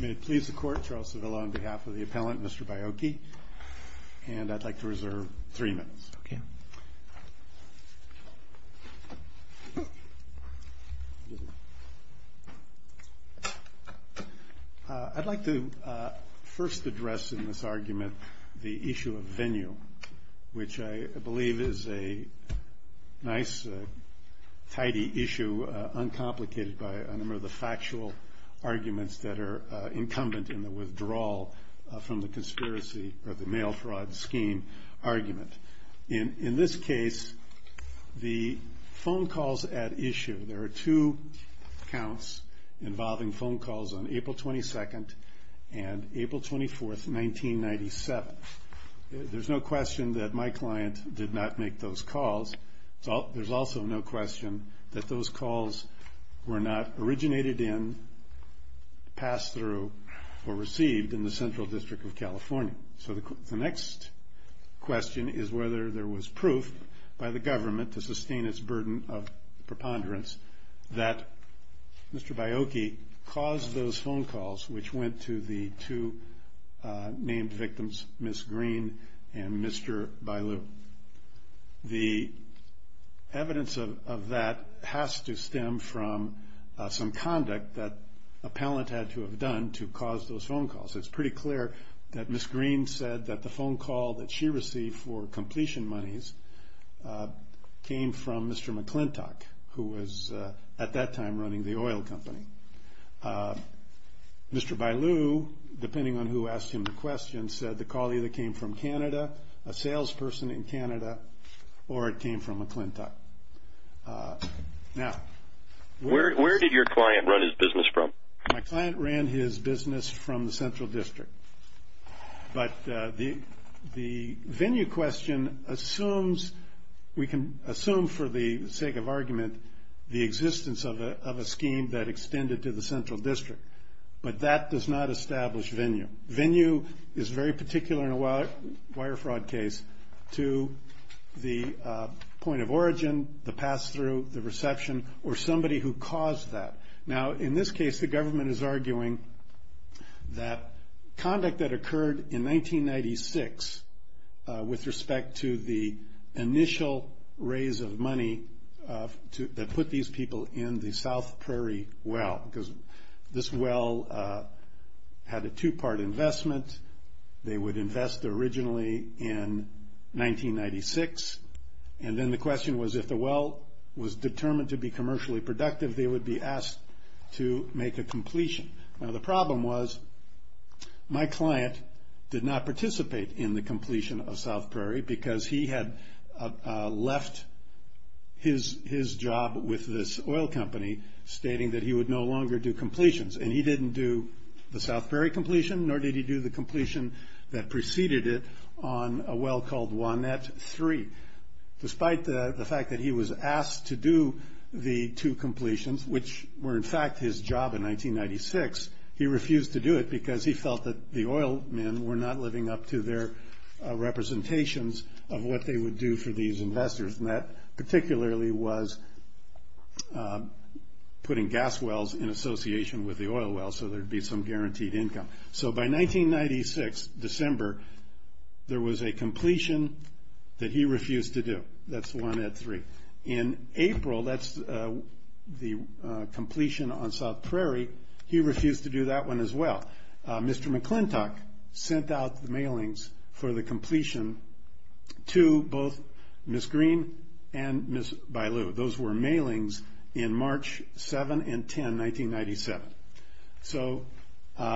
May it please the court, Charles Sevilla on behalf of the appellant, Mr. Baiocchi, and I'd like to reserve three minutes. I'd like to first address in this argument the issue of venue, which I believe is a nice, tidy issue uncomplicated by a number of the factual arguments that are the mail fraud scheme argument. In this case, the phone calls at issue, there are two counts involving phone calls on April 22nd and April 24th, 1997. There's no question that my client did not make those calls. There's also no question that those calls were not originated in, passed through, or the next question is whether there was proof by the government to sustain its burden of preponderance that Mr. Baiocchi caused those phone calls, which went to the two named victims, Ms. Green and Mr. Bailu. The evidence of that has to stem from some conduct that appellant had to have done to cause those phone calls. It's pretty clear that Ms. Green said that the phone call that she received for completion monies came from Mr. McClintock, who was at that time running the oil company. Mr. Bailu, depending on who asked him the question, said the call either came from Canada, a salesperson in Canada, or it came from McClintock. Now, where did your client run his business from? My client ran his business from the Central District, but the venue question assumes, we can assume for the sake of argument, the existence of a scheme that extended to the Central District, but that does not establish venue. Venue is very particular in a wire fraud case to the point of origin, the pass-through, the reception, or somebody who caused that. Now, in this case, the government is arguing that conduct that occurred in 1996 with respect to the initial raise of money that put these people in the South Prairie well, because this well had a two-part investment. They would invest originally in 1996, and then the question was, if the well was determined to be commercially productive, they would be asked to make a completion. Now, the problem was, my client did not participate in the completion of South Prairie, because he had left his job with this oil company, stating that he would no longer do completions, and he didn't do the South Prairie completion, nor did he do the completion that despite the fact that he was asked to do the two completions, which were in fact his job in 1996, he refused to do it because he felt that the oil men were not living up to their representations of what they would do for these investors, and that particularly was putting gas wells in association with the oil well, so there'd be some guaranteed income. So, by 1996, December, there was a completion that he refused to do. That's the one at three. In April, that's the completion on South Prairie. He refused to do that one as well. Mr. McClintock sent out the mailings for the completion to both Ms. Green and Ms. Bailu. Those were mailings in March 7 and 10, 1997. So, Mr.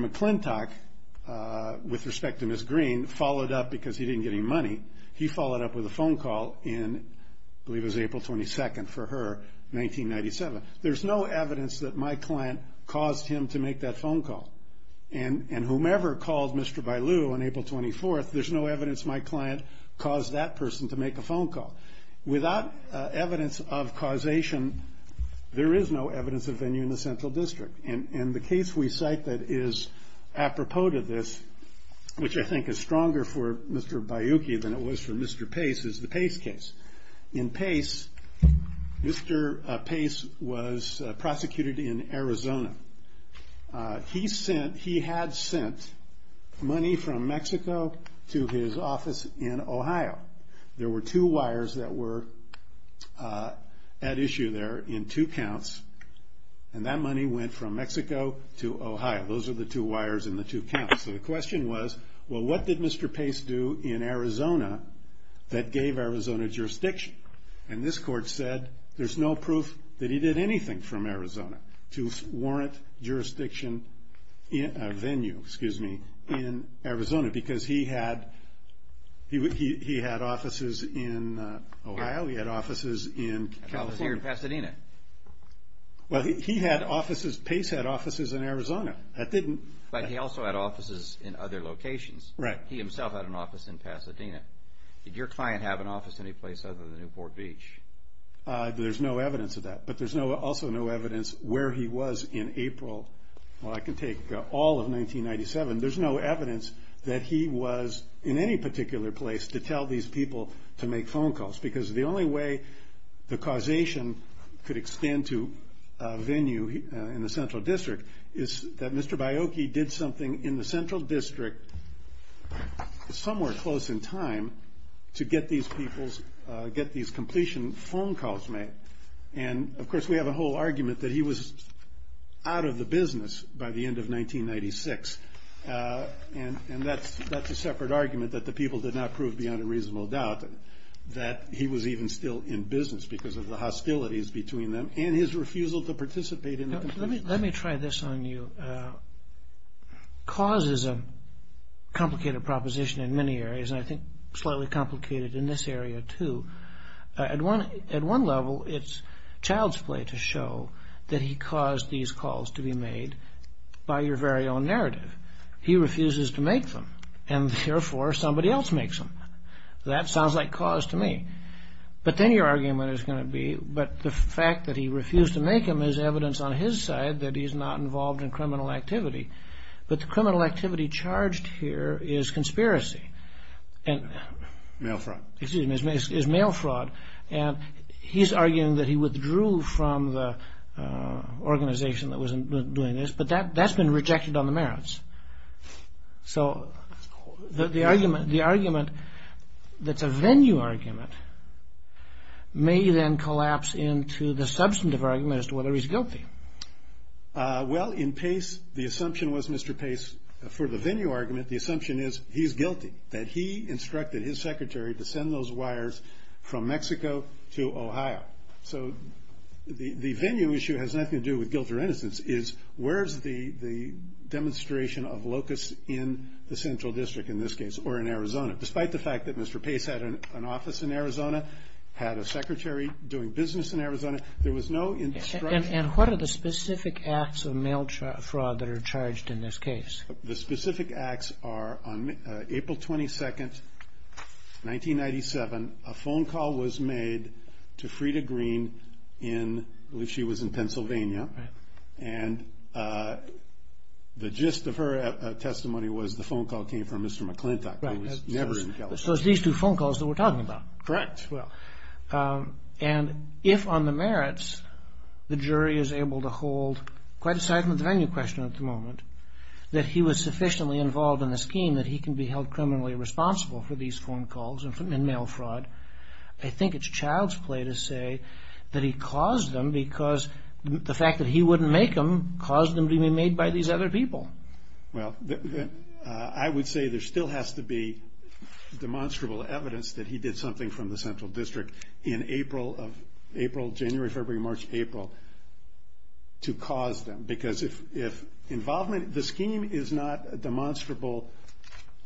McClintock, with respect to Ms. Green, followed up, because he didn't get any money, he followed up with a phone call in, I believe it was April 22nd for her, 1997. There's no evidence that my client caused him to make that phone call, and whomever called Mr. Bailu on April 24th, there's no evidence my client caused that person to make a phone call. Without evidence of causation, there is no evidence of venue in the Central District, and the case we cite that is apropos to this, which I think is stronger for Mr. Bailu than it was for Mr. Pace, is the Pace case. In Pace, Mr. Pace was prosecuted in Arizona. He had sent money from Mexico to his office in Ohio. There were two wires that were at issue there in two counts, and that money went from Mexico to Ohio. Those are the two wires in the two counts. So, the question was, well, what did Mr. Pace do in Arizona that gave Arizona jurisdiction? And this court said there's no proof that he did anything from in Arizona, because he had offices in Ohio, he had offices in California. Here in Pasadena. Well, he had offices, Pace had offices in Arizona. That didn't... But he also had offices in other locations. Right. He himself had an office in Pasadena. Did your client have an office anyplace other than Newport Beach? There's no evidence of that, but there's also no evidence where he was in April, well, I can take all of 1997. There's no evidence that he was in any particular place to tell these people to make phone calls, because the only way the causation could extend to venue in the Central District is that Mr. Baiocchi did something in the Central District somewhere close in time to get these people's, get these completion phone calls made. And of course, we have a whole argument that he was out of the business by the end of 1996. And that's a separate argument that the people did not prove beyond a reasonable doubt that he was even still in business because of the hostilities between them and his refusal to participate in the completion. Let me try this on you. Cause is a complicated proposition in many areas, and I think slightly complicated in this area too. At one level, it's child's play to show that he caused these calls to be made by your very own narrative. He refuses to make them, and therefore somebody else makes them. That sounds like cause to me. But then your argument is going to be, but the fact that he refused to make them is evidence on his side that he's not involved in criminal activity. But the criminal activity charged here is conspiracy. Mail fraud. Excuse me, is mail fraud. And he's arguing that he withdrew from the organization that was doing this, but that's been rejected on the merits. So the argument that's a venue argument may then collapse into the substantive argument as to whether he's guilty. Well, in Pace, the assumption was Mr. Pace, for the venue argument, the assumption is he's guilty. That he instructed his secretary to send those wires from Mexico to Ohio. So the venue issue has nothing to do with guilt or innocence. It's where's the demonstration of locus in the central district in this case, or in Arizona. Despite the fact that Mr. Pace had an office in Arizona, had a secretary doing business in Arizona, there was no instruction. And what are the specific acts of mail fraud that are charged in this case? The specific acts are on April 22nd, 1997, a phone call was made to Frieda Green in, I believe she was in Pennsylvania. And the gist of her testimony was the phone call came from Mr. McClintock. He was never in California. So it's these two phone calls that we're talking about. Correct. Well, and if on the merits, the jury is able to hold, quite aside from the venue question at the moment, that he was sufficiently involved in the scheme that he can be held criminally responsible for these phone calls and mail fraud. I think it's child's play to say that he caused them because the fact that he wouldn't make them caused them to be made by these other people. Well, I would say there still has to be demonstrable evidence that he did something from the central district in April, January, February, March, April, to cause them. Because if involvement, the scheme is not demonstrable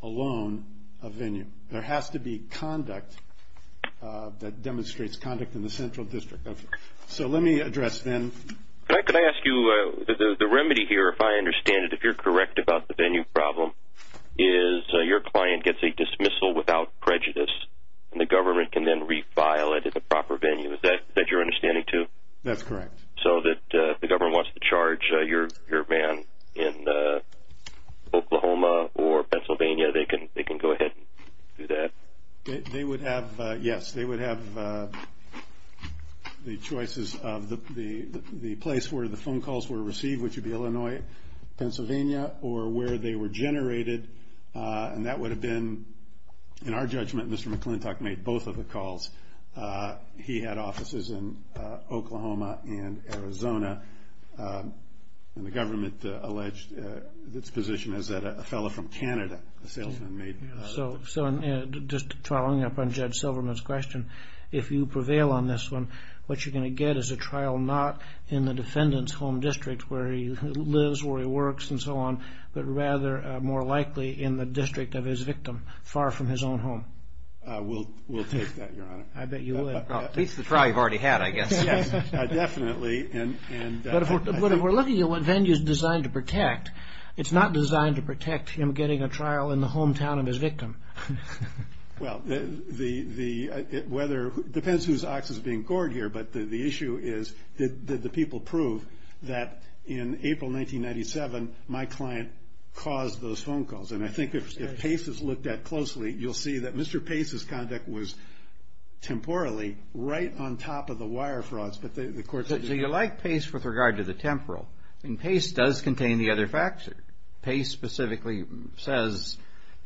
alone of venue. There has to be conduct that demonstrates conduct in the central district. So let me address then. Could I ask you, the remedy here, if I understand it, if you're correct about the venue problem is your client gets a dismissal without prejudice, and the government can then refile it at the proper venue. Is that your understanding too? That's correct. So that the government wants to charge your man in Oklahoma or Pennsylvania, they can go ahead and do that? They would have, yes, they would have the choices of the place where the phone calls were received, which would be Illinois, Pennsylvania, or where they were generated. And that would have been, in our judgment, Mr. McClintock made both of the calls. He had offices in Oklahoma and Arizona. And the government alleged its position is that a fellow from Canada, a salesman made. So just following up on Judge Silverman's question, if you prevail on this one, what you're going to get is a trial not in the defendant's home district, where he lives, where he works, and so on, but rather, more likely, in the district of his victim, far from his own home. We'll take that, Your Honor. I bet you will. It's the trial you've already had, I guess. Yes, definitely. But if we're looking at what venue is designed to protect, it's not designed to protect him getting a trial in the hometown of his victim. Well, it depends whose ox is being gored here, but the issue is, did the people prove that in April 1997, my client caused those phone calls? And I think if Pace is looked at closely, you'll see that Mr. Pace's conduct was, temporally, right on top of the wire frauds. So you like Pace with regard to the temporal. And Pace does contain the other factors. Pace specifically says,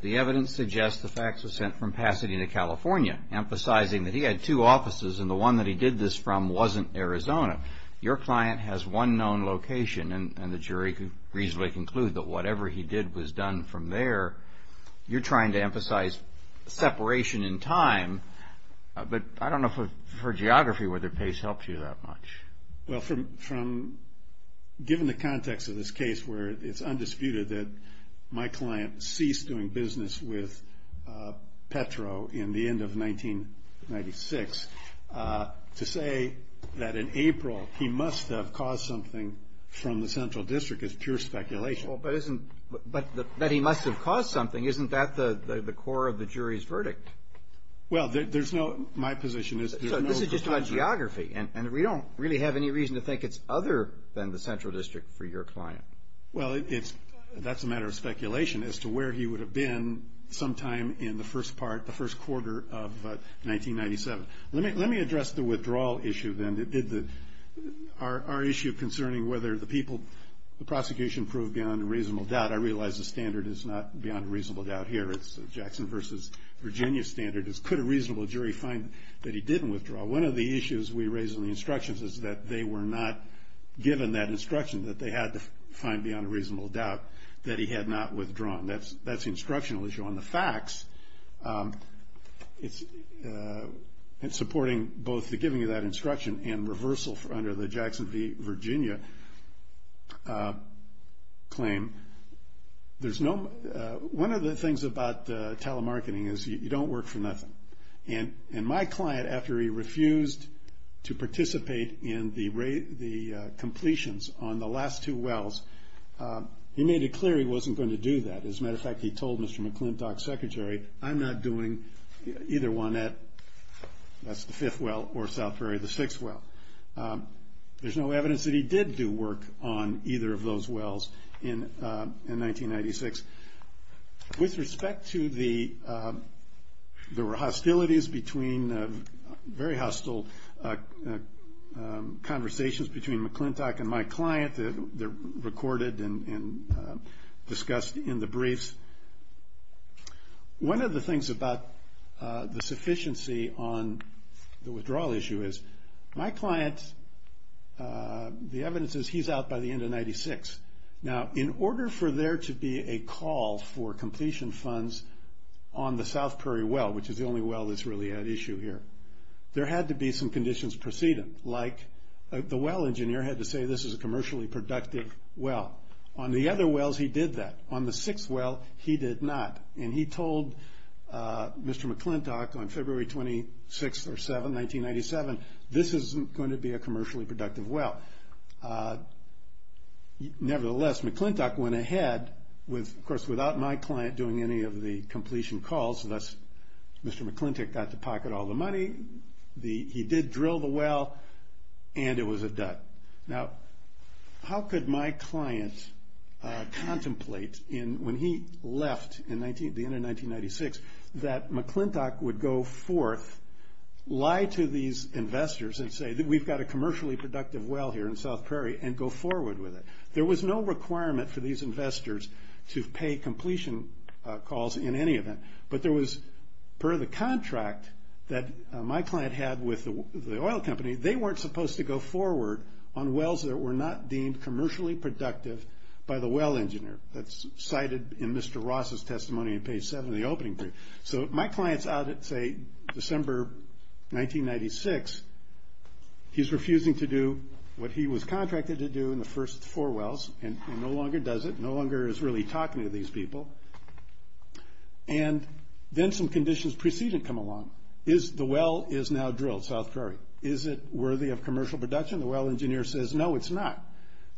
the evidence suggests the fax was sent from Pasadena, California, emphasizing that he had two offices, and the one that he did this from wasn't Arizona. Your client has one known location, and the jury could reasonably conclude that whatever he did was done from there. You're trying to emphasize separation in time, but I don't know, for geography, whether Pace helps you that much. Well, given the context of this case, where it's undisputed that my client ceased doing business with Petro in the end of 1996, to say that in April, he must have caused something from the Central District is pure speculation. Well, but isn't, that he must have caused something, isn't that the core of the jury's verdict? Well, there's no, my position is, this is just about geography, and we don't really have any reason to think it's other than the Central District for your client. Well, it's, that's a matter of speculation as to where he would have been sometime in the first part, the first quarter of 1997. Let me address the withdrawal issue then that did the, our issue concerning whether the people, the prosecution proved beyond a reasonable doubt, I realize the standard is not beyond a reasonable doubt here, it's Jackson versus Virginia standard, could a reasonable jury find that he didn't withdraw? One of the issues we raised in the instructions is that they were not given that instruction, that they had to find beyond a reasonable doubt that he had not withdrawn. That's the instructional issue. On the facts, it's supporting both the giving of that instruction and reversal under the Jackson v. Virginia claim. There's no, one of the things about telemarketing is you don't work for nothing. And my client, after he refused to participate in the completions on the last two wells, he made it clear he wasn't going to do that. As a matter of fact, he told Mr. McClintock's secretary, I'm not doing either one at, that's the fifth well or Southbury, the sixth well. There's no evidence that he did do work on either of those wells in 1996. With respect to the, there were hostilities between, very hostile conversations between McClintock and my client, they're recorded and discussed in the briefs. One of the things about the sufficiency on the withdrawal issue is my client, the evidence is he's out by the end of 96. Now, in order for there to be a call for completion funds on the Southbury well, which is the only well that's really at issue here, there had to be some conditions preceding, like the well engineer had to say this is a commercially productive well. On the other wells, he did that. On the sixth well, he did not. And he told Mr. McClintock on February 26th or 7th, 1997, this isn't going to be a commercially productive well. Nevertheless, McClintock went ahead with, of course, without my client doing any of the completion calls. Thus, Mr. McClintock got to pocket all the money. He did drill the well, and it was a dud. Now, how could my client contemplate when he left at the end of 1996, that McClintock would go forth, lie to these investors and say, we've got a commercially productive well here in South Prairie, and go forward with it. There was no requirement for these investors to pay completion calls in any event. But there was, per the contract that my client had with the oil company, they weren't supposed to go forward on wells that were not deemed commercially productive by the well engineer. That's cited in Mr. Ross's testimony on page seven of the opening brief. So my client's out at, say, December 1996. He's refusing to do what he was contracted to do in the first four wells, and no longer does it, no longer is really talking to these people. And then some conditions precede and come along. The well is now drilled, South Prairie. Is it worthy of commercial production? The well engineer says, no, it's not.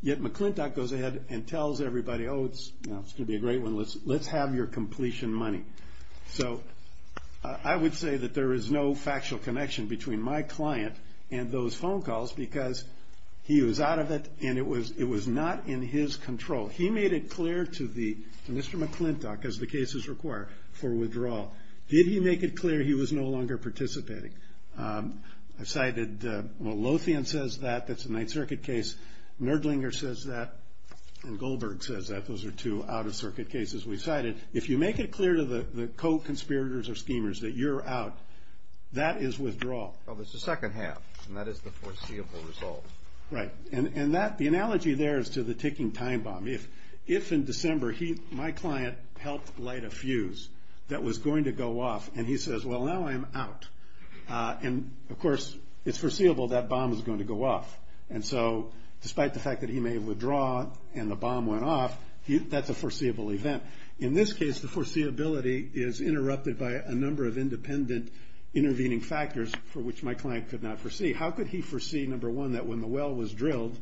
Yet, McClintock goes ahead and tells everybody, oh, it's going to be a great one. Let's have your completion money. So I would say that there is no factual connection between my client and those phone calls, because he was out of it, and it was not in his control. He made it clear to Mr. McClintock, as the cases require, for withdrawal. Did he make it clear he was no longer participating? I cited, well, Lothian says that. That's a Ninth Circuit case. Nerdlinger says that. And Goldberg says that. Those are two out-of-circuit cases we cited. If you make it clear to the co-conspirators or schemers that you're out, that is withdrawal. Well, there's a second half, and that is the foreseeable result. Right. And the analogy there is to the ticking time bomb. If in December, my client helped light a fuse that was going to go off, and he says, well, now I'm out. And of course, it's foreseeable that bomb is going to go off. And so despite the fact that he may withdraw, and the bomb went off, that's a foreseeable event. In this case, the foreseeability is interrupted by a number of independent intervening factors for which my client could not foresee. How could he foresee, number one, that when the well was drilled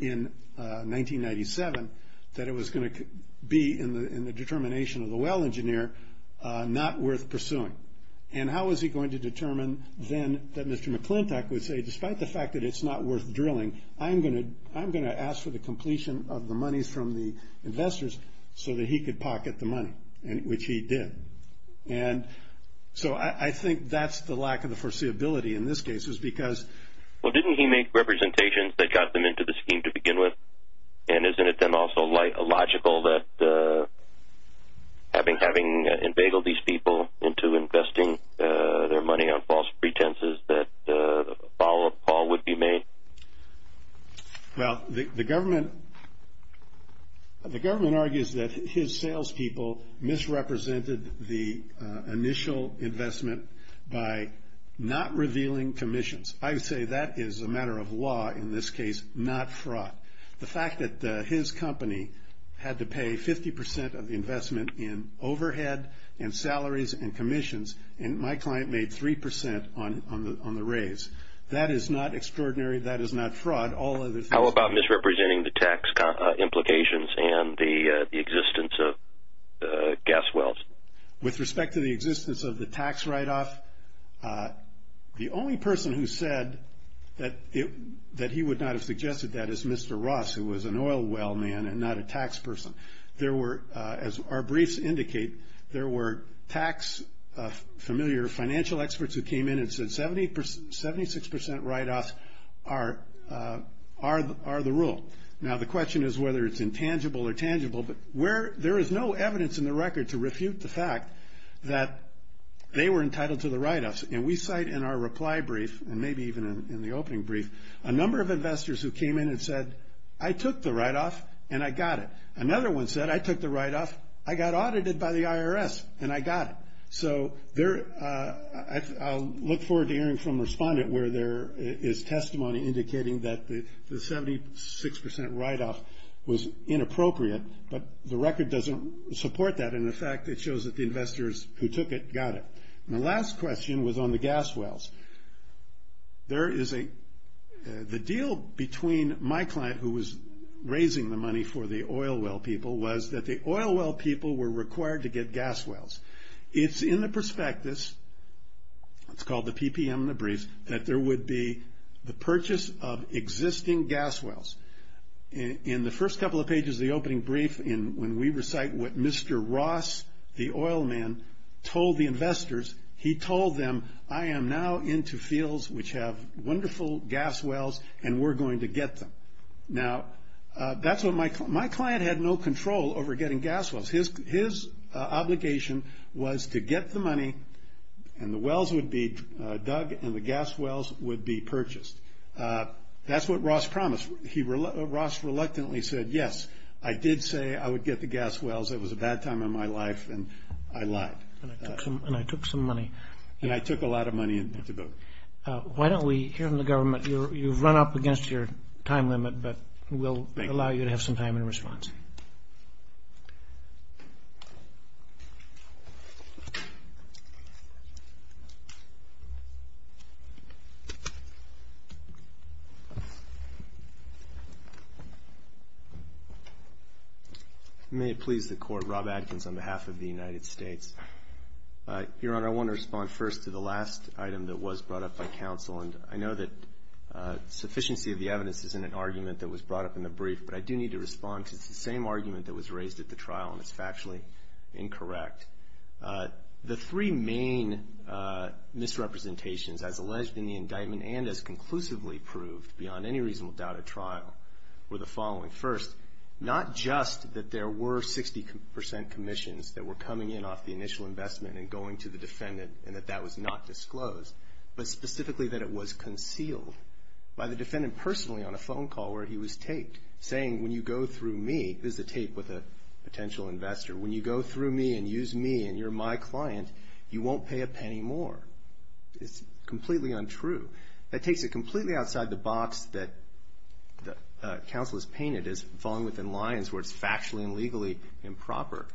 in 1997, that it was going to be, in the determination of the well engineer, not worth pursuing? And how was he going to determine then that Mr. McClintock would say, despite the fact that it's not worth drilling, I'm going to ask for the completion of the money from the investors so that he could pocket the money, which he did. And so I think that's the lack of the foreseeability in this case, is because... Well, didn't he make representations that got them into the scheme to begin with? And isn't it then also logical that having invaded these people into investing their money on false pretenses, that a follow-up call would be made? Well, the government argues that his salespeople misrepresented the initial investment by not revealing commissions. I say that is a matter of law, in this case, not fraud. The fact that his company had to pay 50% of the investment in overhead and salaries and commissions, and my client made 3% on the raise. That is not extraordinary. That is not fraud. All of this... How about misrepresenting the tax implications and the existence of gas wells? With respect to the existence of the tax write-off, the only person who said that he would not have suggested that is Mr. Ross, who was an oil well man and not a tax person. There were, as our briefs indicate, there were tax-familiar financial experts who came in and said 76% write-offs are the rule. Now, the question is whether it's intangible or tangible, but there is no evidence in the record to refute the fact that they were entitled to the write-offs. And we cite in our reply brief, and maybe even in the opening brief, a number of investors who came in and said, I took the write-off and I got it. Another one said, I took the write-off, I got audited by the IRS and I got it. So I'll look forward to hearing from a respondent where there is testimony indicating that the 76% write-off was inappropriate, but the record doesn't support that. And in fact, it shows that the investors who took it got it. The last question was on the gas wells. The deal between my client, who was raising the money for the oil well people, was that the oil well people were required to get gas wells. It's in the prospectus, it's called the PPM in the brief, that there would be the purchase of existing gas wells. In the first couple of pages of the opening brief, when we recite what Mr. Ross, the oil man, told the investors, he told them, I am now into fields which have wonderful gas wells and we're going to get them. Now, my client had no control over getting gas wells. His obligation was to get the money and the wells would be dug and the gas wells would be purchased. That's what Ross promised. He reluctantly said, yes, I did say I would get the gas wells. It was a bad time in my life and I lied. And I took some money. And I took a lot of money. Why don't we hear from the government? You've run up against your time limit, but we'll allow you to have some time in response. May it please the court. Rob Adkins on behalf of the United States. Your Honor, I want to respond first to the last item that was brought up by counsel. I know that sufficiency of the evidence is in an argument that was brought up in the brief, but I do need to respond because it's the same argument that was raised at the trial and it's factually incorrect. The three main misrepresentations as alleged in the indictment and as conclusively proved beyond any reasonable doubt at trial were the following. First, not just that there were 60% commissions that were coming in off the initial investment and going to the defendant and that that was not disclosed, but specifically that it was concealed by the defendant personally on a phone call where he was taped saying, when you go through me, this is a tape with a potential investor, when you go through me and use me and you're my client, you won't pay a penny more. It's completely untrue. That takes it completely outside the box that counsel has painted as falling within lines where it's factually and legally improper.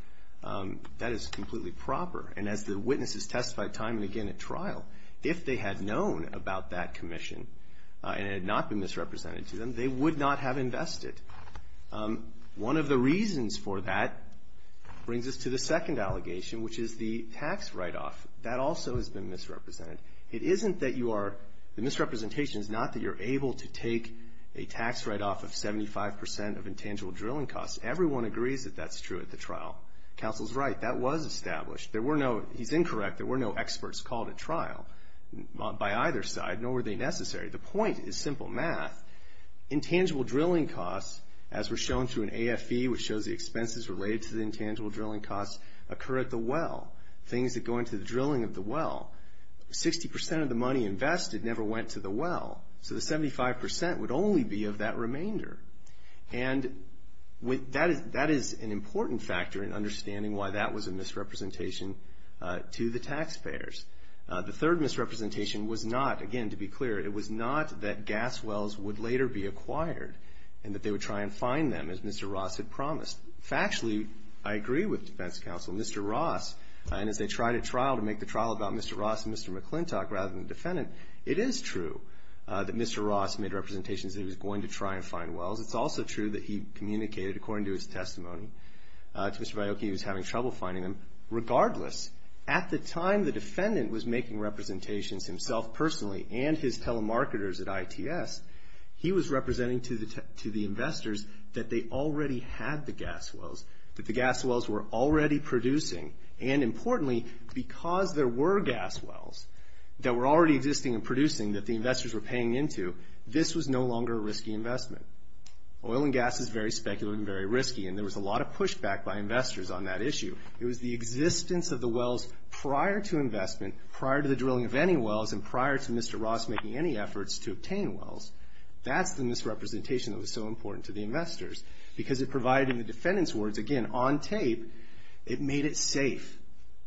That is completely proper. And as the witnesses testified time and again at trial, if they had known about that commission and it had not been misrepresented to them, they would not have invested. One of the reasons for that brings us to the second allegation, which is the tax write-off. That also has been misrepresented. It isn't that you are, the misrepresentation is not that you're able to take a tax write-off of 75% of intangible drilling costs. Everyone agrees that that's true at the trial. Counsel's right. That was established. There were no, he's incorrect. There were no experts called at trial by either side, nor were they necessary. The point is simple math. Intangible drilling costs, as we're shown through an AFE, which shows the expenses related to the intangible drilling costs, occur at the well. Things that go into the drilling of the well. 60% of the money invested never went to the well. So the 75% would only be of that remainder. And that is an important factor in understanding why that was a misrepresentation to the taxpayers. The third misrepresentation was not, again, to be clear, it was not that gas wells would later be acquired and that they would try and find them as Mr. Ross had promised. Factually, I agree with defense counsel. Mr. Ross, and as they tried a trial to make the trial about Mr. Ross and Mr. McClintock rather than the defendant, it is true that Mr. Ross made representations that he was going to try and find wells. It's also true that he communicated, according to his testimony, to Mr. Baiocchi he was having trouble finding them. Regardless, at the time the defendant was making representations himself personally and his telemarketers at ITS, he was representing to the investors that they already had the gas wells, that the gas wells were already producing. And importantly, because there were gas wells that were already existing and producing that the investors were paying into, this was no longer a risky investment. Oil and gas is very speculative and very risky. And there was a lot of pushback by investors on that issue. It was the existence of the wells prior to investment, prior to the drilling of any wells, and prior to Mr. Ross making any efforts to obtain wells. That's the misrepresentation that was so important to the investors. Because it provided the defendant's words, again, on tape, it made it safe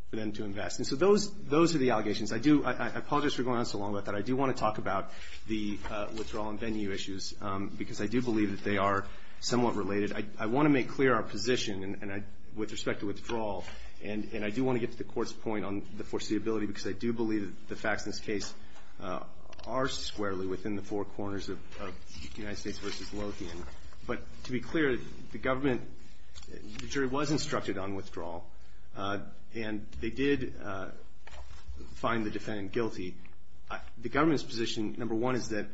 for them to invest. And so those are the allegations. I do, I apologize for going on so long about that. I do want to talk about the withdrawal and venue issues because I do believe that they are somewhat related. I want to make clear our position with respect to withdrawal. And I do want to get to the Court's point on the foreseeability because I do believe that the facts in this case are squarely within the four corners of United States v. Lothian. But to be clear, the government, the jury was instructed on withdrawal. And they did find the defendant guilty. The government's position, number one, is that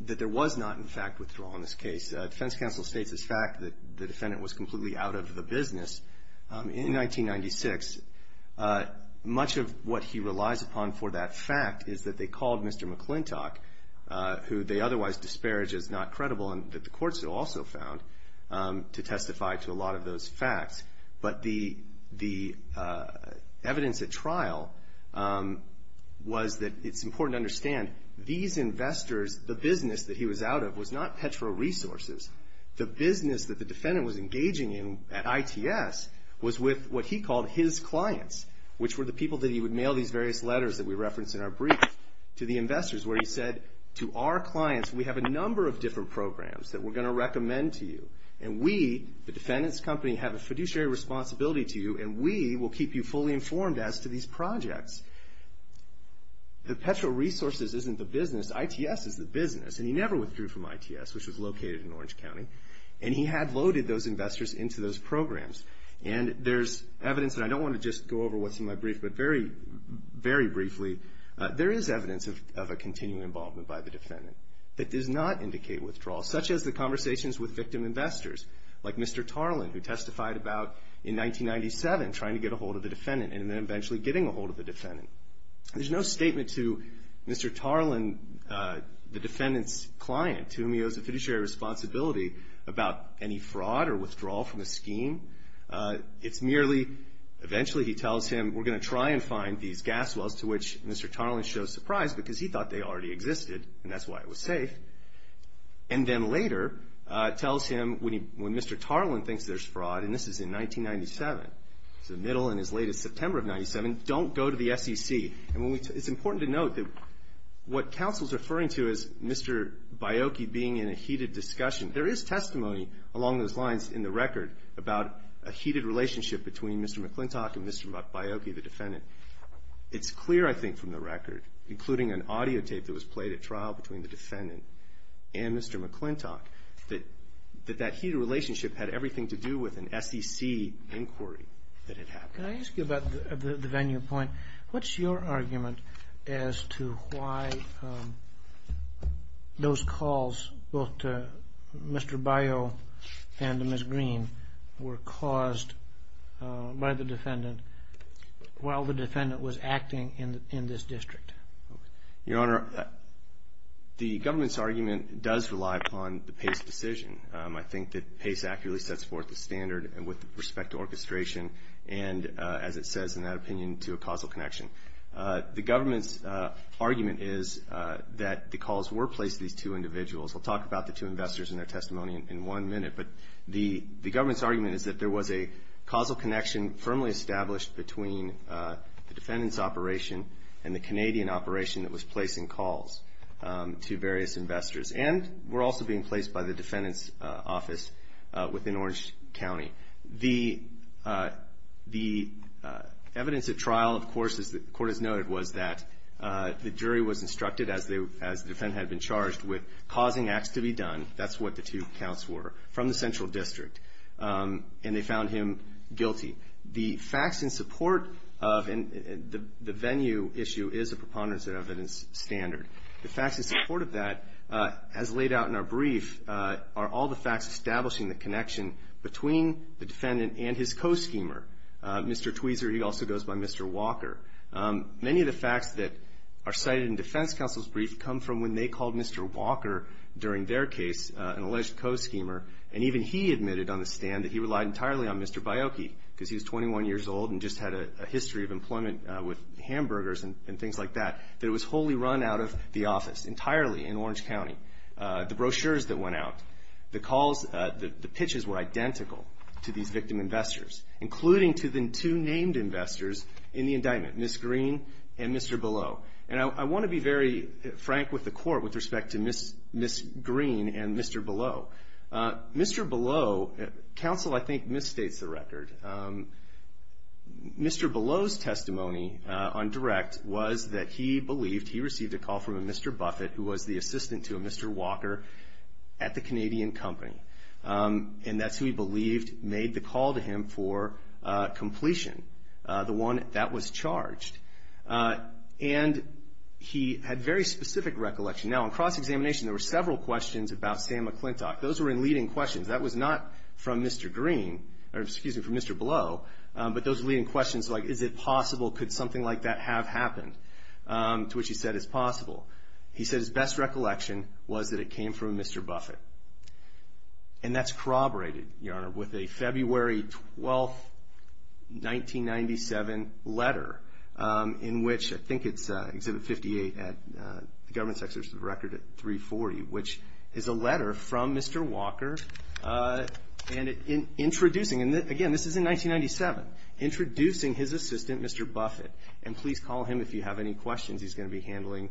there was not, in fact, withdrawal in this case. Defense counsel states, in fact, that the defendant was completely out of the business. In 1996, much of what he relies upon for that fact is that they called Mr. McClintock, who they otherwise disparage as not credible and that the courts also found to testify to a lot of those facts. But the evidence at trial was that it's important to understand these investors, the business that he was out of, was not Petro Resources. The business that the defendant was engaging in at ITS was with what he called his clients, which were the people that he would mail these various letters that we reference in our brief to the investors where he said, to our clients, we have a number of different programs that we're going to recommend to you. And we, the defendant's company, have a fiduciary responsibility to you and we will keep you fully informed as to these projects. The Petro Resources isn't the business. ITS is the business. And he never withdrew from ITS, which was located in Orange County. And he had loaded those investors into those programs. And there's evidence, and I don't want to just go over what's in my brief, but very, very briefly, there is evidence of a continuing involvement by the defendant that does not indicate withdrawal, such as the conversations with victim investors, like Mr. Tarlin, who testified about, in 1997, trying to get ahold of the defendant and then eventually getting ahold of the defendant. There's no statement to Mr. Tarlin, the defendant's client, to whom he owes a fiduciary responsibility about any fraud or withdrawal from the scheme. It's merely, eventually he tells him, we're going to try and find these gas wells to which Mr. Tarlin shows surprise because he thought they already existed and that's why it was safe. And then later tells him, when Mr. Tarlin thinks there's fraud, and this is in 1997, it's the middle and his latest September of 97, don't go to the SEC. And it's important to note that what counsel's referring to as Mr. Biocchi being in a heated discussion, there is testimony along those lines in the record about a heated relationship between Mr. McClintock and Mr. Biocchi, the defendant. It's clear, I think, from the record, including an audio tape that was played at trial between the defendant and Mr. McClintock, that that heated relationship had everything to do with an SEC inquiry that had happened. Can I ask you about the venue point? What's your argument as to why those calls, both to Mr. Bio and to Ms. Green, were caused by the defendant while the defendant was acting in this district? Your Honor, the government's argument does rely upon the Pace decision. I think that Pace accurately sets forth the standard and with respect to orchestration and, as it says in that opinion, to a causal connection. The government's argument is that the calls were placed to these two individuals. We'll talk about the two investors and their testimony in one minute. But the government's argument is that there was a causal connection firmly established between the defendant's operation and the Canadian operation that was placing calls to various investors. And were also being placed by the defendant's office within Orange County. The evidence at trial, of course, as the Court has noted, was that the jury was instructed, as the defendant had been charged, with causing acts to be done, that's what the two counts were, from the central district. And they found him guilty. The facts in support of the venue issue is a preponderance of evidence standard. The facts in support of that, as laid out in our brief, are all the facts establishing the connection between the defendant and his co-schemer. Mr. Tweezer, he also goes by Mr. Walker. Many of the facts that are cited in defense counsel's brief come from when they called Mr. Walker, during their case, an alleged co-schemer. And even he admitted on the stand that he relied entirely on Mr. Baiocchi, because he was 21 years old and just had a history of employment with hamburgers and things like that, that it was wholly run out of the office, entirely in Orange County. The brochures that went out, the calls, the pitches were identical to these victim investors, including to the two named investors in the indictment, Ms. Green and Mr. Below. And I want to be very frank with the court with respect to Ms. Green and Mr. Below. Mr. Below, counsel, I think, misstates the record. Mr. Below's testimony on direct was that he believed, he received a call from a Mr. Buffett, who was the assistant to Mr. Walker at the Canadian company. And that's who he believed made the call to him for completion, the one that was charged. And he had very specific recollection. Now, in cross-examination, there were several questions about Sam McClintock. Those were in leading questions. That was not from Mr. Green, or excuse me, from Mr. Below, but those leading questions like, is it possible, could something like that have happened? To which he said, it's possible. He said his best recollection was that it came from Mr. Buffett. And that's corroborated, Your Honor, with a February 12th, 1997 letter, in which I think it's Exhibit 58 at the Government Secretary's of the Record at 340, which is a letter from Mr. Walker, and introducing, and again, this is in 1997, introducing his assistant, Mr. Buffett. And please call him if you have any questions. He's going to be handling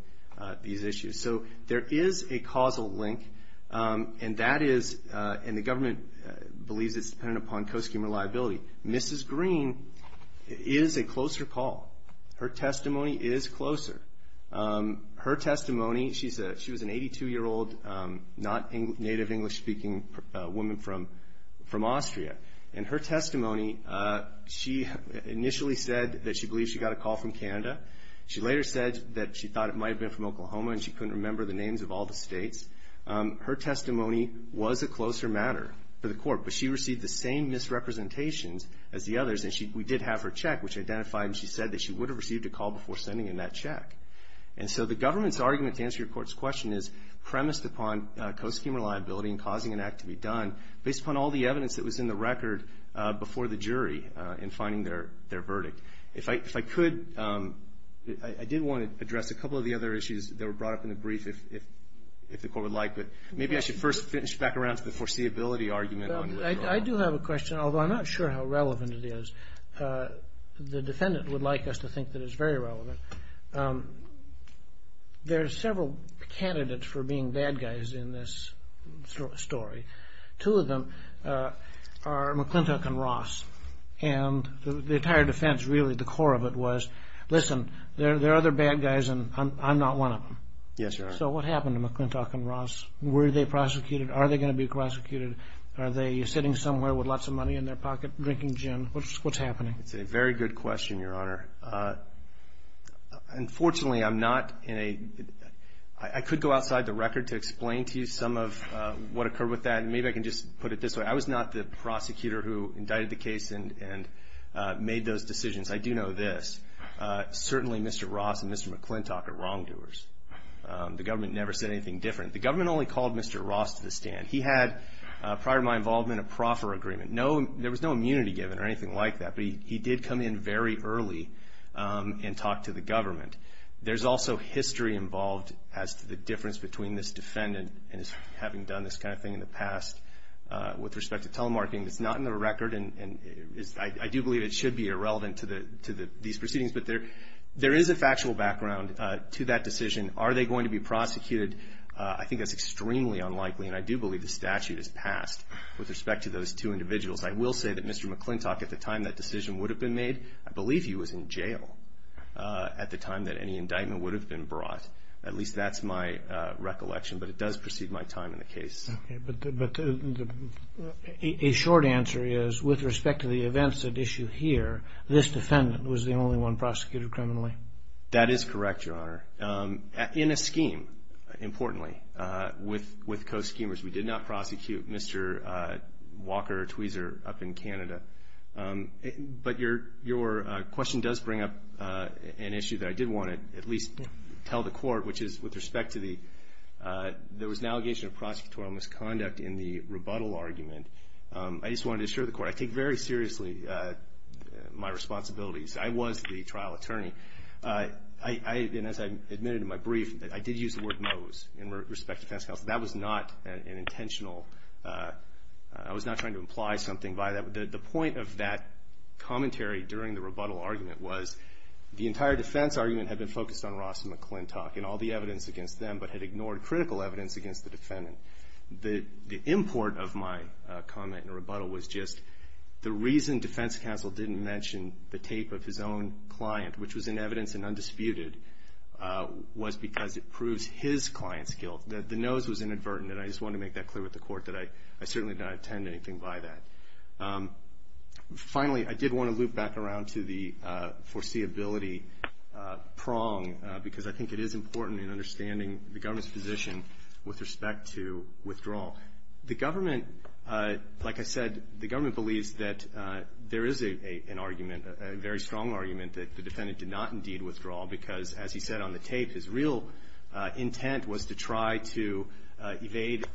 these issues. So there is a causal link, and that is, and the government believes it's dependent upon cost-cumulative liability. Mrs. Green is a closer call. Her testimony is closer. Her testimony, she was an 82-year-old, not native English-speaking woman from Austria. And her testimony, she initially said that she believes she got a call from Canada. She later said that she thought it might have been from Oklahoma, and she couldn't remember the names of all the states. Her testimony was a closer matter for the court, but she received the same misrepresentations as the others, and we did have her check, which identified, and she said that she would have received a call before sending in that check. And so the government's argument to answer your court's question is premised upon cost-cumulative liability and causing an act to be done based upon all the evidence that was in the record before the jury in finding their verdict. If I could, I did want to address a couple of the other issues that were brought up in the brief if the court would like, but maybe I should first finish back around to the foreseeability argument. Well, I do have a question, although I'm not sure how relevant it is. The defendant would like us to think that it's very relevant. There are several candidates for being bad guys in this story. Two of them are McClintock and Ross, and the entire defense, really the core of it was, listen, there are other bad guys, I'm not one of them. Yes, you are. So what happened to McClintock and Ross? Were they prosecuted? Are they going to be prosecuted? Are they sitting somewhere with lots of money in their pocket, drinking gin? What's happening? It's a very good question, Your Honor. Unfortunately, I'm not in a... I could go outside the record to explain to you some of what occurred with that, and maybe I can just put it this way. I was not the prosecutor who indicted the case and made those decisions. I do know this. Certainly, Mr. Ross and Mr. McClintock are wrongdoers. The government never said anything different. The government only called Mr. Ross to the stand. He had, prior to my involvement, a proffer agreement. No, there was no immunity given or anything like that, but he did come in very early and talk to the government. There's also history involved as to the difference between this defendant and his having done this kind of thing in the past with respect to telemarketing. It's not in the record, and I do believe it should be irrelevant to these proceedings, but there is a factual background to that decision. Are they going to be prosecuted? I think that's extremely unlikely, and I do believe the statute is passed with respect to those two individuals. I will say that Mr. McClintock, at the time that decision would have been made, I believe he was in jail at the time that any indictment would have been brought. At least that's my recollection, but it does precede my time in the case. Okay, but a short answer is, with respect to the events at issue here, this defendant was the only one prosecuted criminally. That is correct, Your Honor. In a scheme, importantly, with co-schemers, we did not prosecute Mr. Walker-Tweezer up in Canada, but your question does bring up an issue that I did want to at least tell the court, which is with respect to the, there was an allegation of prosecutorial misconduct in the rebuttal argument. I just wanted to assure the court, I take very seriously my responsibilities. I was the trial attorney. And as I admitted in my brief, I did use the word nose in respect to fencing. That was not an intentional, I was not trying to imply something by that. The point of that commentary during the rebuttal argument was, the entire defense argument had been focused on Ross and McClintock, and all the evidence against them, but had ignored critical evidence against the defendant. The import of my comment and rebuttal was just the reason defense counsel didn't mention the tape of his own client, which was in evidence and undisputed, was because it proves his client's guilt. The nose was inadvertent, and I just wanted to make that clear with the court that I certainly did not intend anything by that. Finally, I did want to loop back around to the foreseeability prong, because I think it is important in understanding the government's position with respect to withdrawal. The government, like I said, the government believes that there is an argument, a very strong argument, that the defendant did not indeed withdraw, because as he said on the tape, his real intent was to try to evade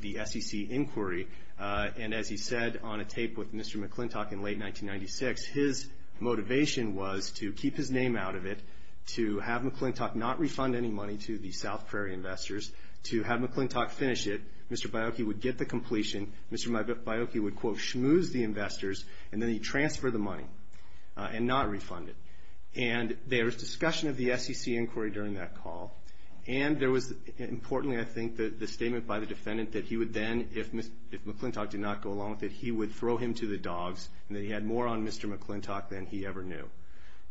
the SEC inquiry. And as he said on a tape with Mr. McClintock in late 1996, his motivation was to keep his name out of it, to have McClintock not refund any money to the South Prairie investors, to have McClintock finish it. Mr. Biocchi would get the completion, Mr. Biocchi would quote, schmooze the investors, and then he'd transfer the money and not refund it. And there was discussion of the SEC inquiry during that call, and there was importantly, I think, the statement by the defendant that he would then, if McClintock did not go along with it, he would throw him to the dogs, and that he had more on Mr. McClintock than he ever knew.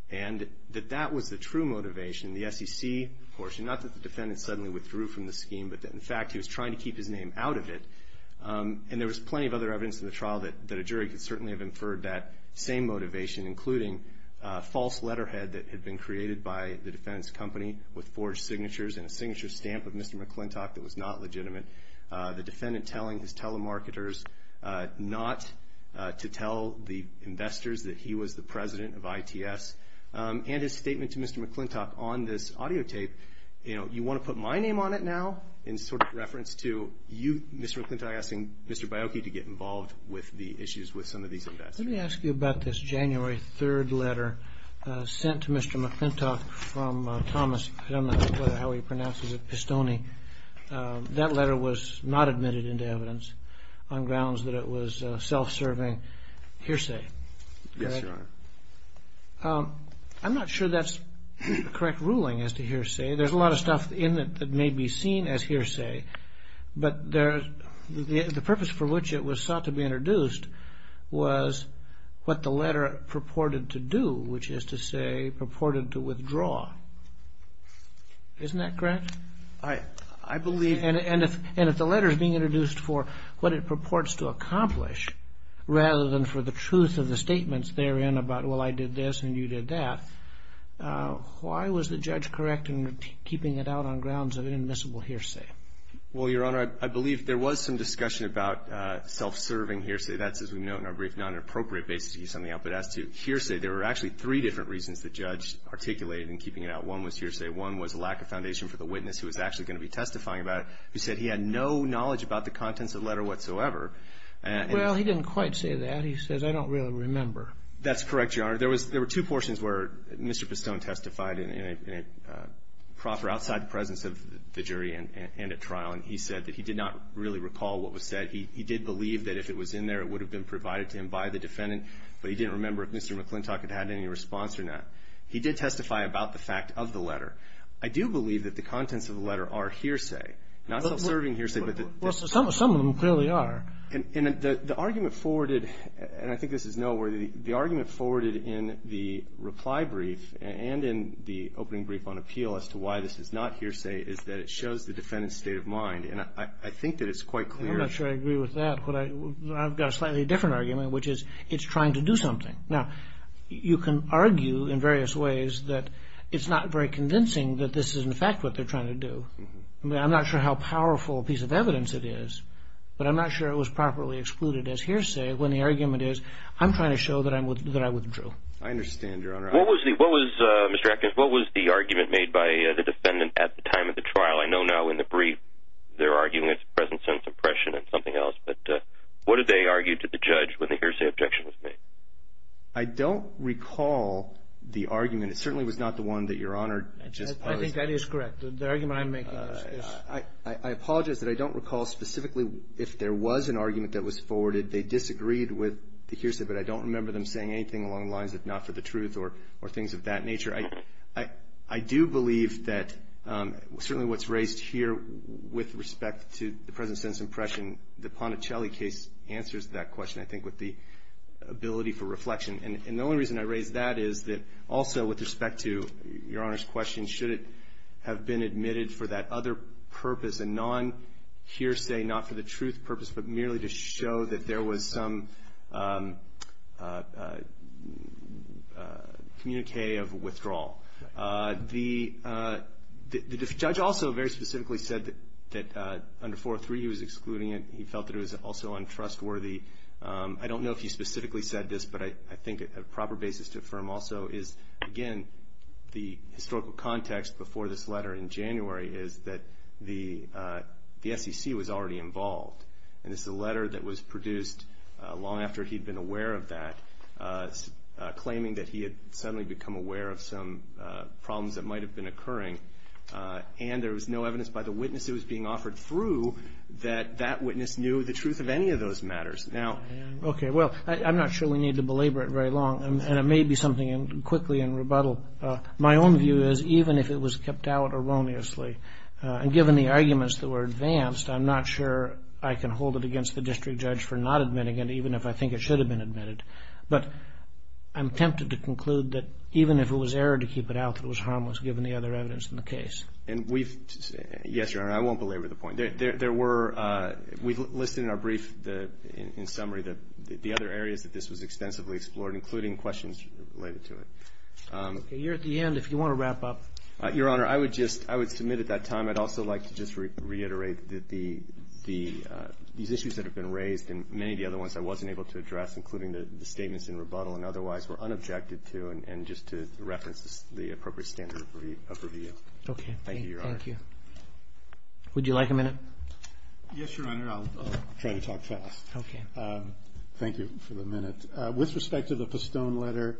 And that that was the true motivation, the SEC portion, not that the defendant suddenly withdrew from the scheme, but that in fact, he was trying to keep his name out of it. And there was plenty of other evidence in the trial that a jury could certainly have inferred that same motivation, including a false letterhead that had been created by the defendant's company with forged signatures and a signature stamp of Mr. McClintock that was not legitimate. The defendant telling his telemarketers not to tell the investors that he was the president of ITS. And his statement to Mr. McClintock on this audio tape, you want to put my name on it now? In sort of reference to you, Mr. McClintock asking Mr. Biocchi to get involved with the issues with some of these investors. Let me ask you about this January 3rd letter sent to Mr. McClintock from Thomas Pistone. That letter was not admitted into evidence on grounds that it was self-serving hearsay. Yes, Your Honor. I'm not sure that's the correct ruling as to hearsay. There's a lot of stuff in it that may be seen as hearsay, but the purpose for which it was sought to be introduced was what the letter purported to do, which is to say purported to withdraw. Isn't that correct? I believe... And if the letter is being introduced for what it purports to accomplish rather than for the truth of the statements therein about, well, I did this and you did that, why was the judge correct in keeping it out on grounds of inadmissible hearsay? Well, Your Honor, I believe there was some discussion about self-serving hearsay. That's, as we note in our brief, not an appropriate basis to use something out, but as to hearsay, there were actually three different reasons the judge articulated in keeping it out. One was hearsay. One was a lack of foundation for the witness who was actually going to be testifying about it who said he had no knowledge about the contents of the letter whatsoever. Well, he didn't quite say that. He says, I don't really remember. That's correct, Your Honor. There were two portions where Mr. Pistone testified in a proper outside presence of the jury and at trial, and he said that he did not really recall what was said. He did believe that if it was in there, it would have been provided to him by the defendant, but he didn't remember if Mr. McClintock had had any response or not. He did testify about the fact of the letter. I do believe that the contents of the letter are hearsay, not self-serving hearsay, but the- Well, some of them clearly are. And the argument forwarded, and I think this is noteworthy, the argument forwarded in the reply brief and in the opening brief on appeal as to why this is not hearsay is that it shows the defendant's state of mind. And I think that it's quite clear- I'm not sure I agree with that. I've got a slightly different argument, which is it's trying to do something. Now, you can argue in various ways that it's not very convincing that this is in fact what they're trying to do. I'm not sure how powerful a piece of evidence it is, but I'm not sure it was properly excluded as hearsay when the argument is, I'm trying to show that I withdrew. I understand, Your Honor. What was the- what was- Mr. Atkins, what was the argument made by the defendant at the time of the trial? I know now in the brief they're arguing it's a present sense impression and something else, but what did they argue to the judge when the hearsay objection was made? I don't recall the argument. It certainly was not the one that Your Honor just posed. I think that is correct. The argument I'm making is- I apologize that I don't recall specifically if there was an argument that was forwarded. They disagreed with the hearsay, but I don't remember them saying anything along the lines of not for the truth or things of that nature. I do believe that certainly what's raised here with respect to the present sense impression, the Ponticelli case answers that question, I think, with the ability for reflection. And the only reason I raise that is that also with respect to Your Honor's question, should it have been admitted for that other purpose, a non-hearsay, not for the truth purpose, but merely to show that there was some communique of withdrawal. The judge also very specifically said that under 403 he was excluding it. He felt that it was also untrustworthy. I don't know if he specifically said this, but I think a proper basis to affirm also is, again, the historical context before this letter in January is that the SEC was already involved. And this is a letter that was produced long after he'd been aware of that, claiming that he had suddenly become aware of some problems that might have been occurring. And there was no evidence by the witness who was being offered through that that witness knew the truth of any of those matters. Now, okay. Well, I'm not sure we need to belabor it very long. And it may be something quickly in rebuttal. My own view is even if it was kept out erroneously, and given the arguments that were advanced, I'm not sure I can hold it against the district judge for not admitting it, even if I think it should have been admitted. But I'm tempted to conclude that even if it was errored to keep it out, it was harmless given the other evidence in the case. And we've, yes, Your Honor, I won't belabor the point. There were, we've listed in our brief, in summary, the other areas that this was extensively explored, including questions related to it. Okay, you're at the end if you want to wrap up. Your Honor, I would just, I would submit at that time, I'd also like to just reiterate the, these issues that have been raised, and many of the other ones I wasn't able to address, including the statements in rebuttal and otherwise, were unobjected to, and just to reference the appropriate standard of review. Okay. Thank you, Your Honor. Thank you. Would you like a minute? Yes, Your Honor, I'll try to talk fast. Thank you for the minute. With respect to the Pistone letter,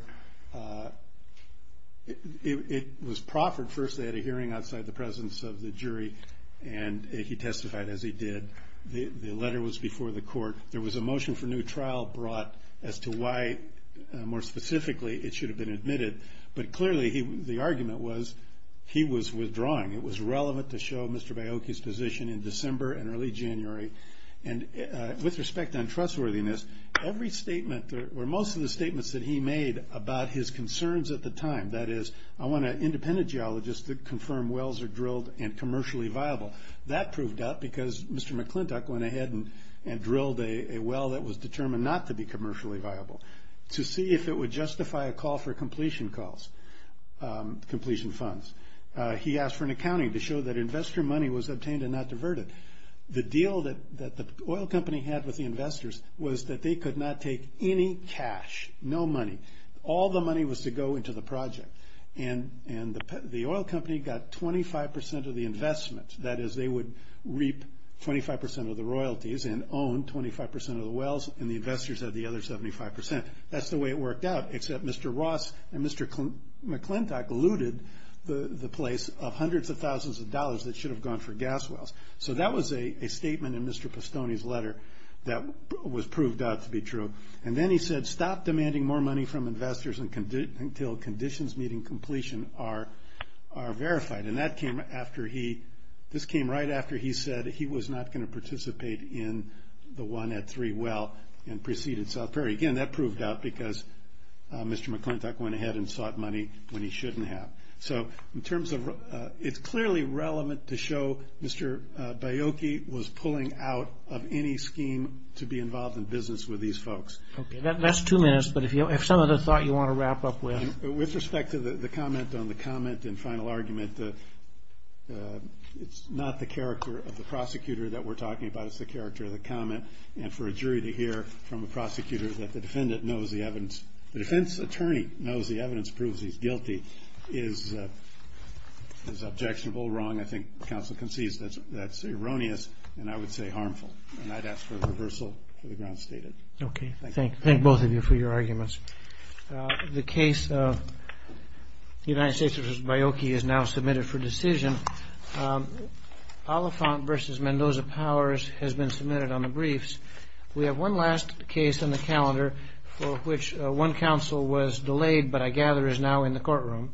it was proffered. First, they had a hearing outside the presence of the jury, and he testified as he did. The letter was before the court. There was a motion for new trial brought as to why, more specifically, it should have been admitted. But clearly, the argument was, he was withdrawing. It was relevant to show Mr. Baiocchi's position in December and early January. And with respect on trustworthiness, every statement, or most of the statements that he made about his concerns at the time, that is, I want an independent geologist to confirm wells are drilled and commercially viable. That proved up because Mr. McClintock went ahead and drilled a well that was determined not to be commercially viable to see if it would justify a call for completion calls, completion funds. He asked for an accounting to show that investor money was obtained and not diverted. The deal that the oil company had with the investors was that they could not take any cash, no money. All the money was to go into the project. And the oil company got 25% of the investment. That is, they would reap 25% of the royalties and own 25% of the wells, and the investors had the other 75%. That's the way it worked out, except Mr. Ross and Mr. McClintock looted the place of hundreds of thousands of dollars that should have gone for gas wells. So that was a statement in Mr. Postone's letter that was proved out to be true. And then he said, stop demanding more money from investors until conditions meeting completion are verified. And that came after he, this came right after he said he was not going to participate in the one at three well and preceded South Prairie. Again, that proved out because Mr. McClintock went ahead and sought money when he shouldn't have. So in terms of, it's clearly relevant to show Mr. Baiocchi was pulling out of any scheme to be involved in business with these folks. Okay, that last two minutes, but if you have some other thought you want to wrap up with. With respect to the comment on the comment and final argument, it's not the character of the prosecutor that we're talking about. It's the character of the comment and for a jury to hear from a prosecutor that the defendant knows the evidence, the defense attorney knows the evidence proves he's guilty is objectionable, wrong. I think counsel concedes that's erroneous and I would say harmful. And I'd ask for reversal for the grounds stated. Okay, thank you. Thank both of you for your arguments. The case of United States v. Baiocchi is now submitted for decision. Oliphant v. Mendoza Powers has been submitted on the briefs. We have one last case on the calendar for which one counsel was delayed, but I gather is now in the courtroom.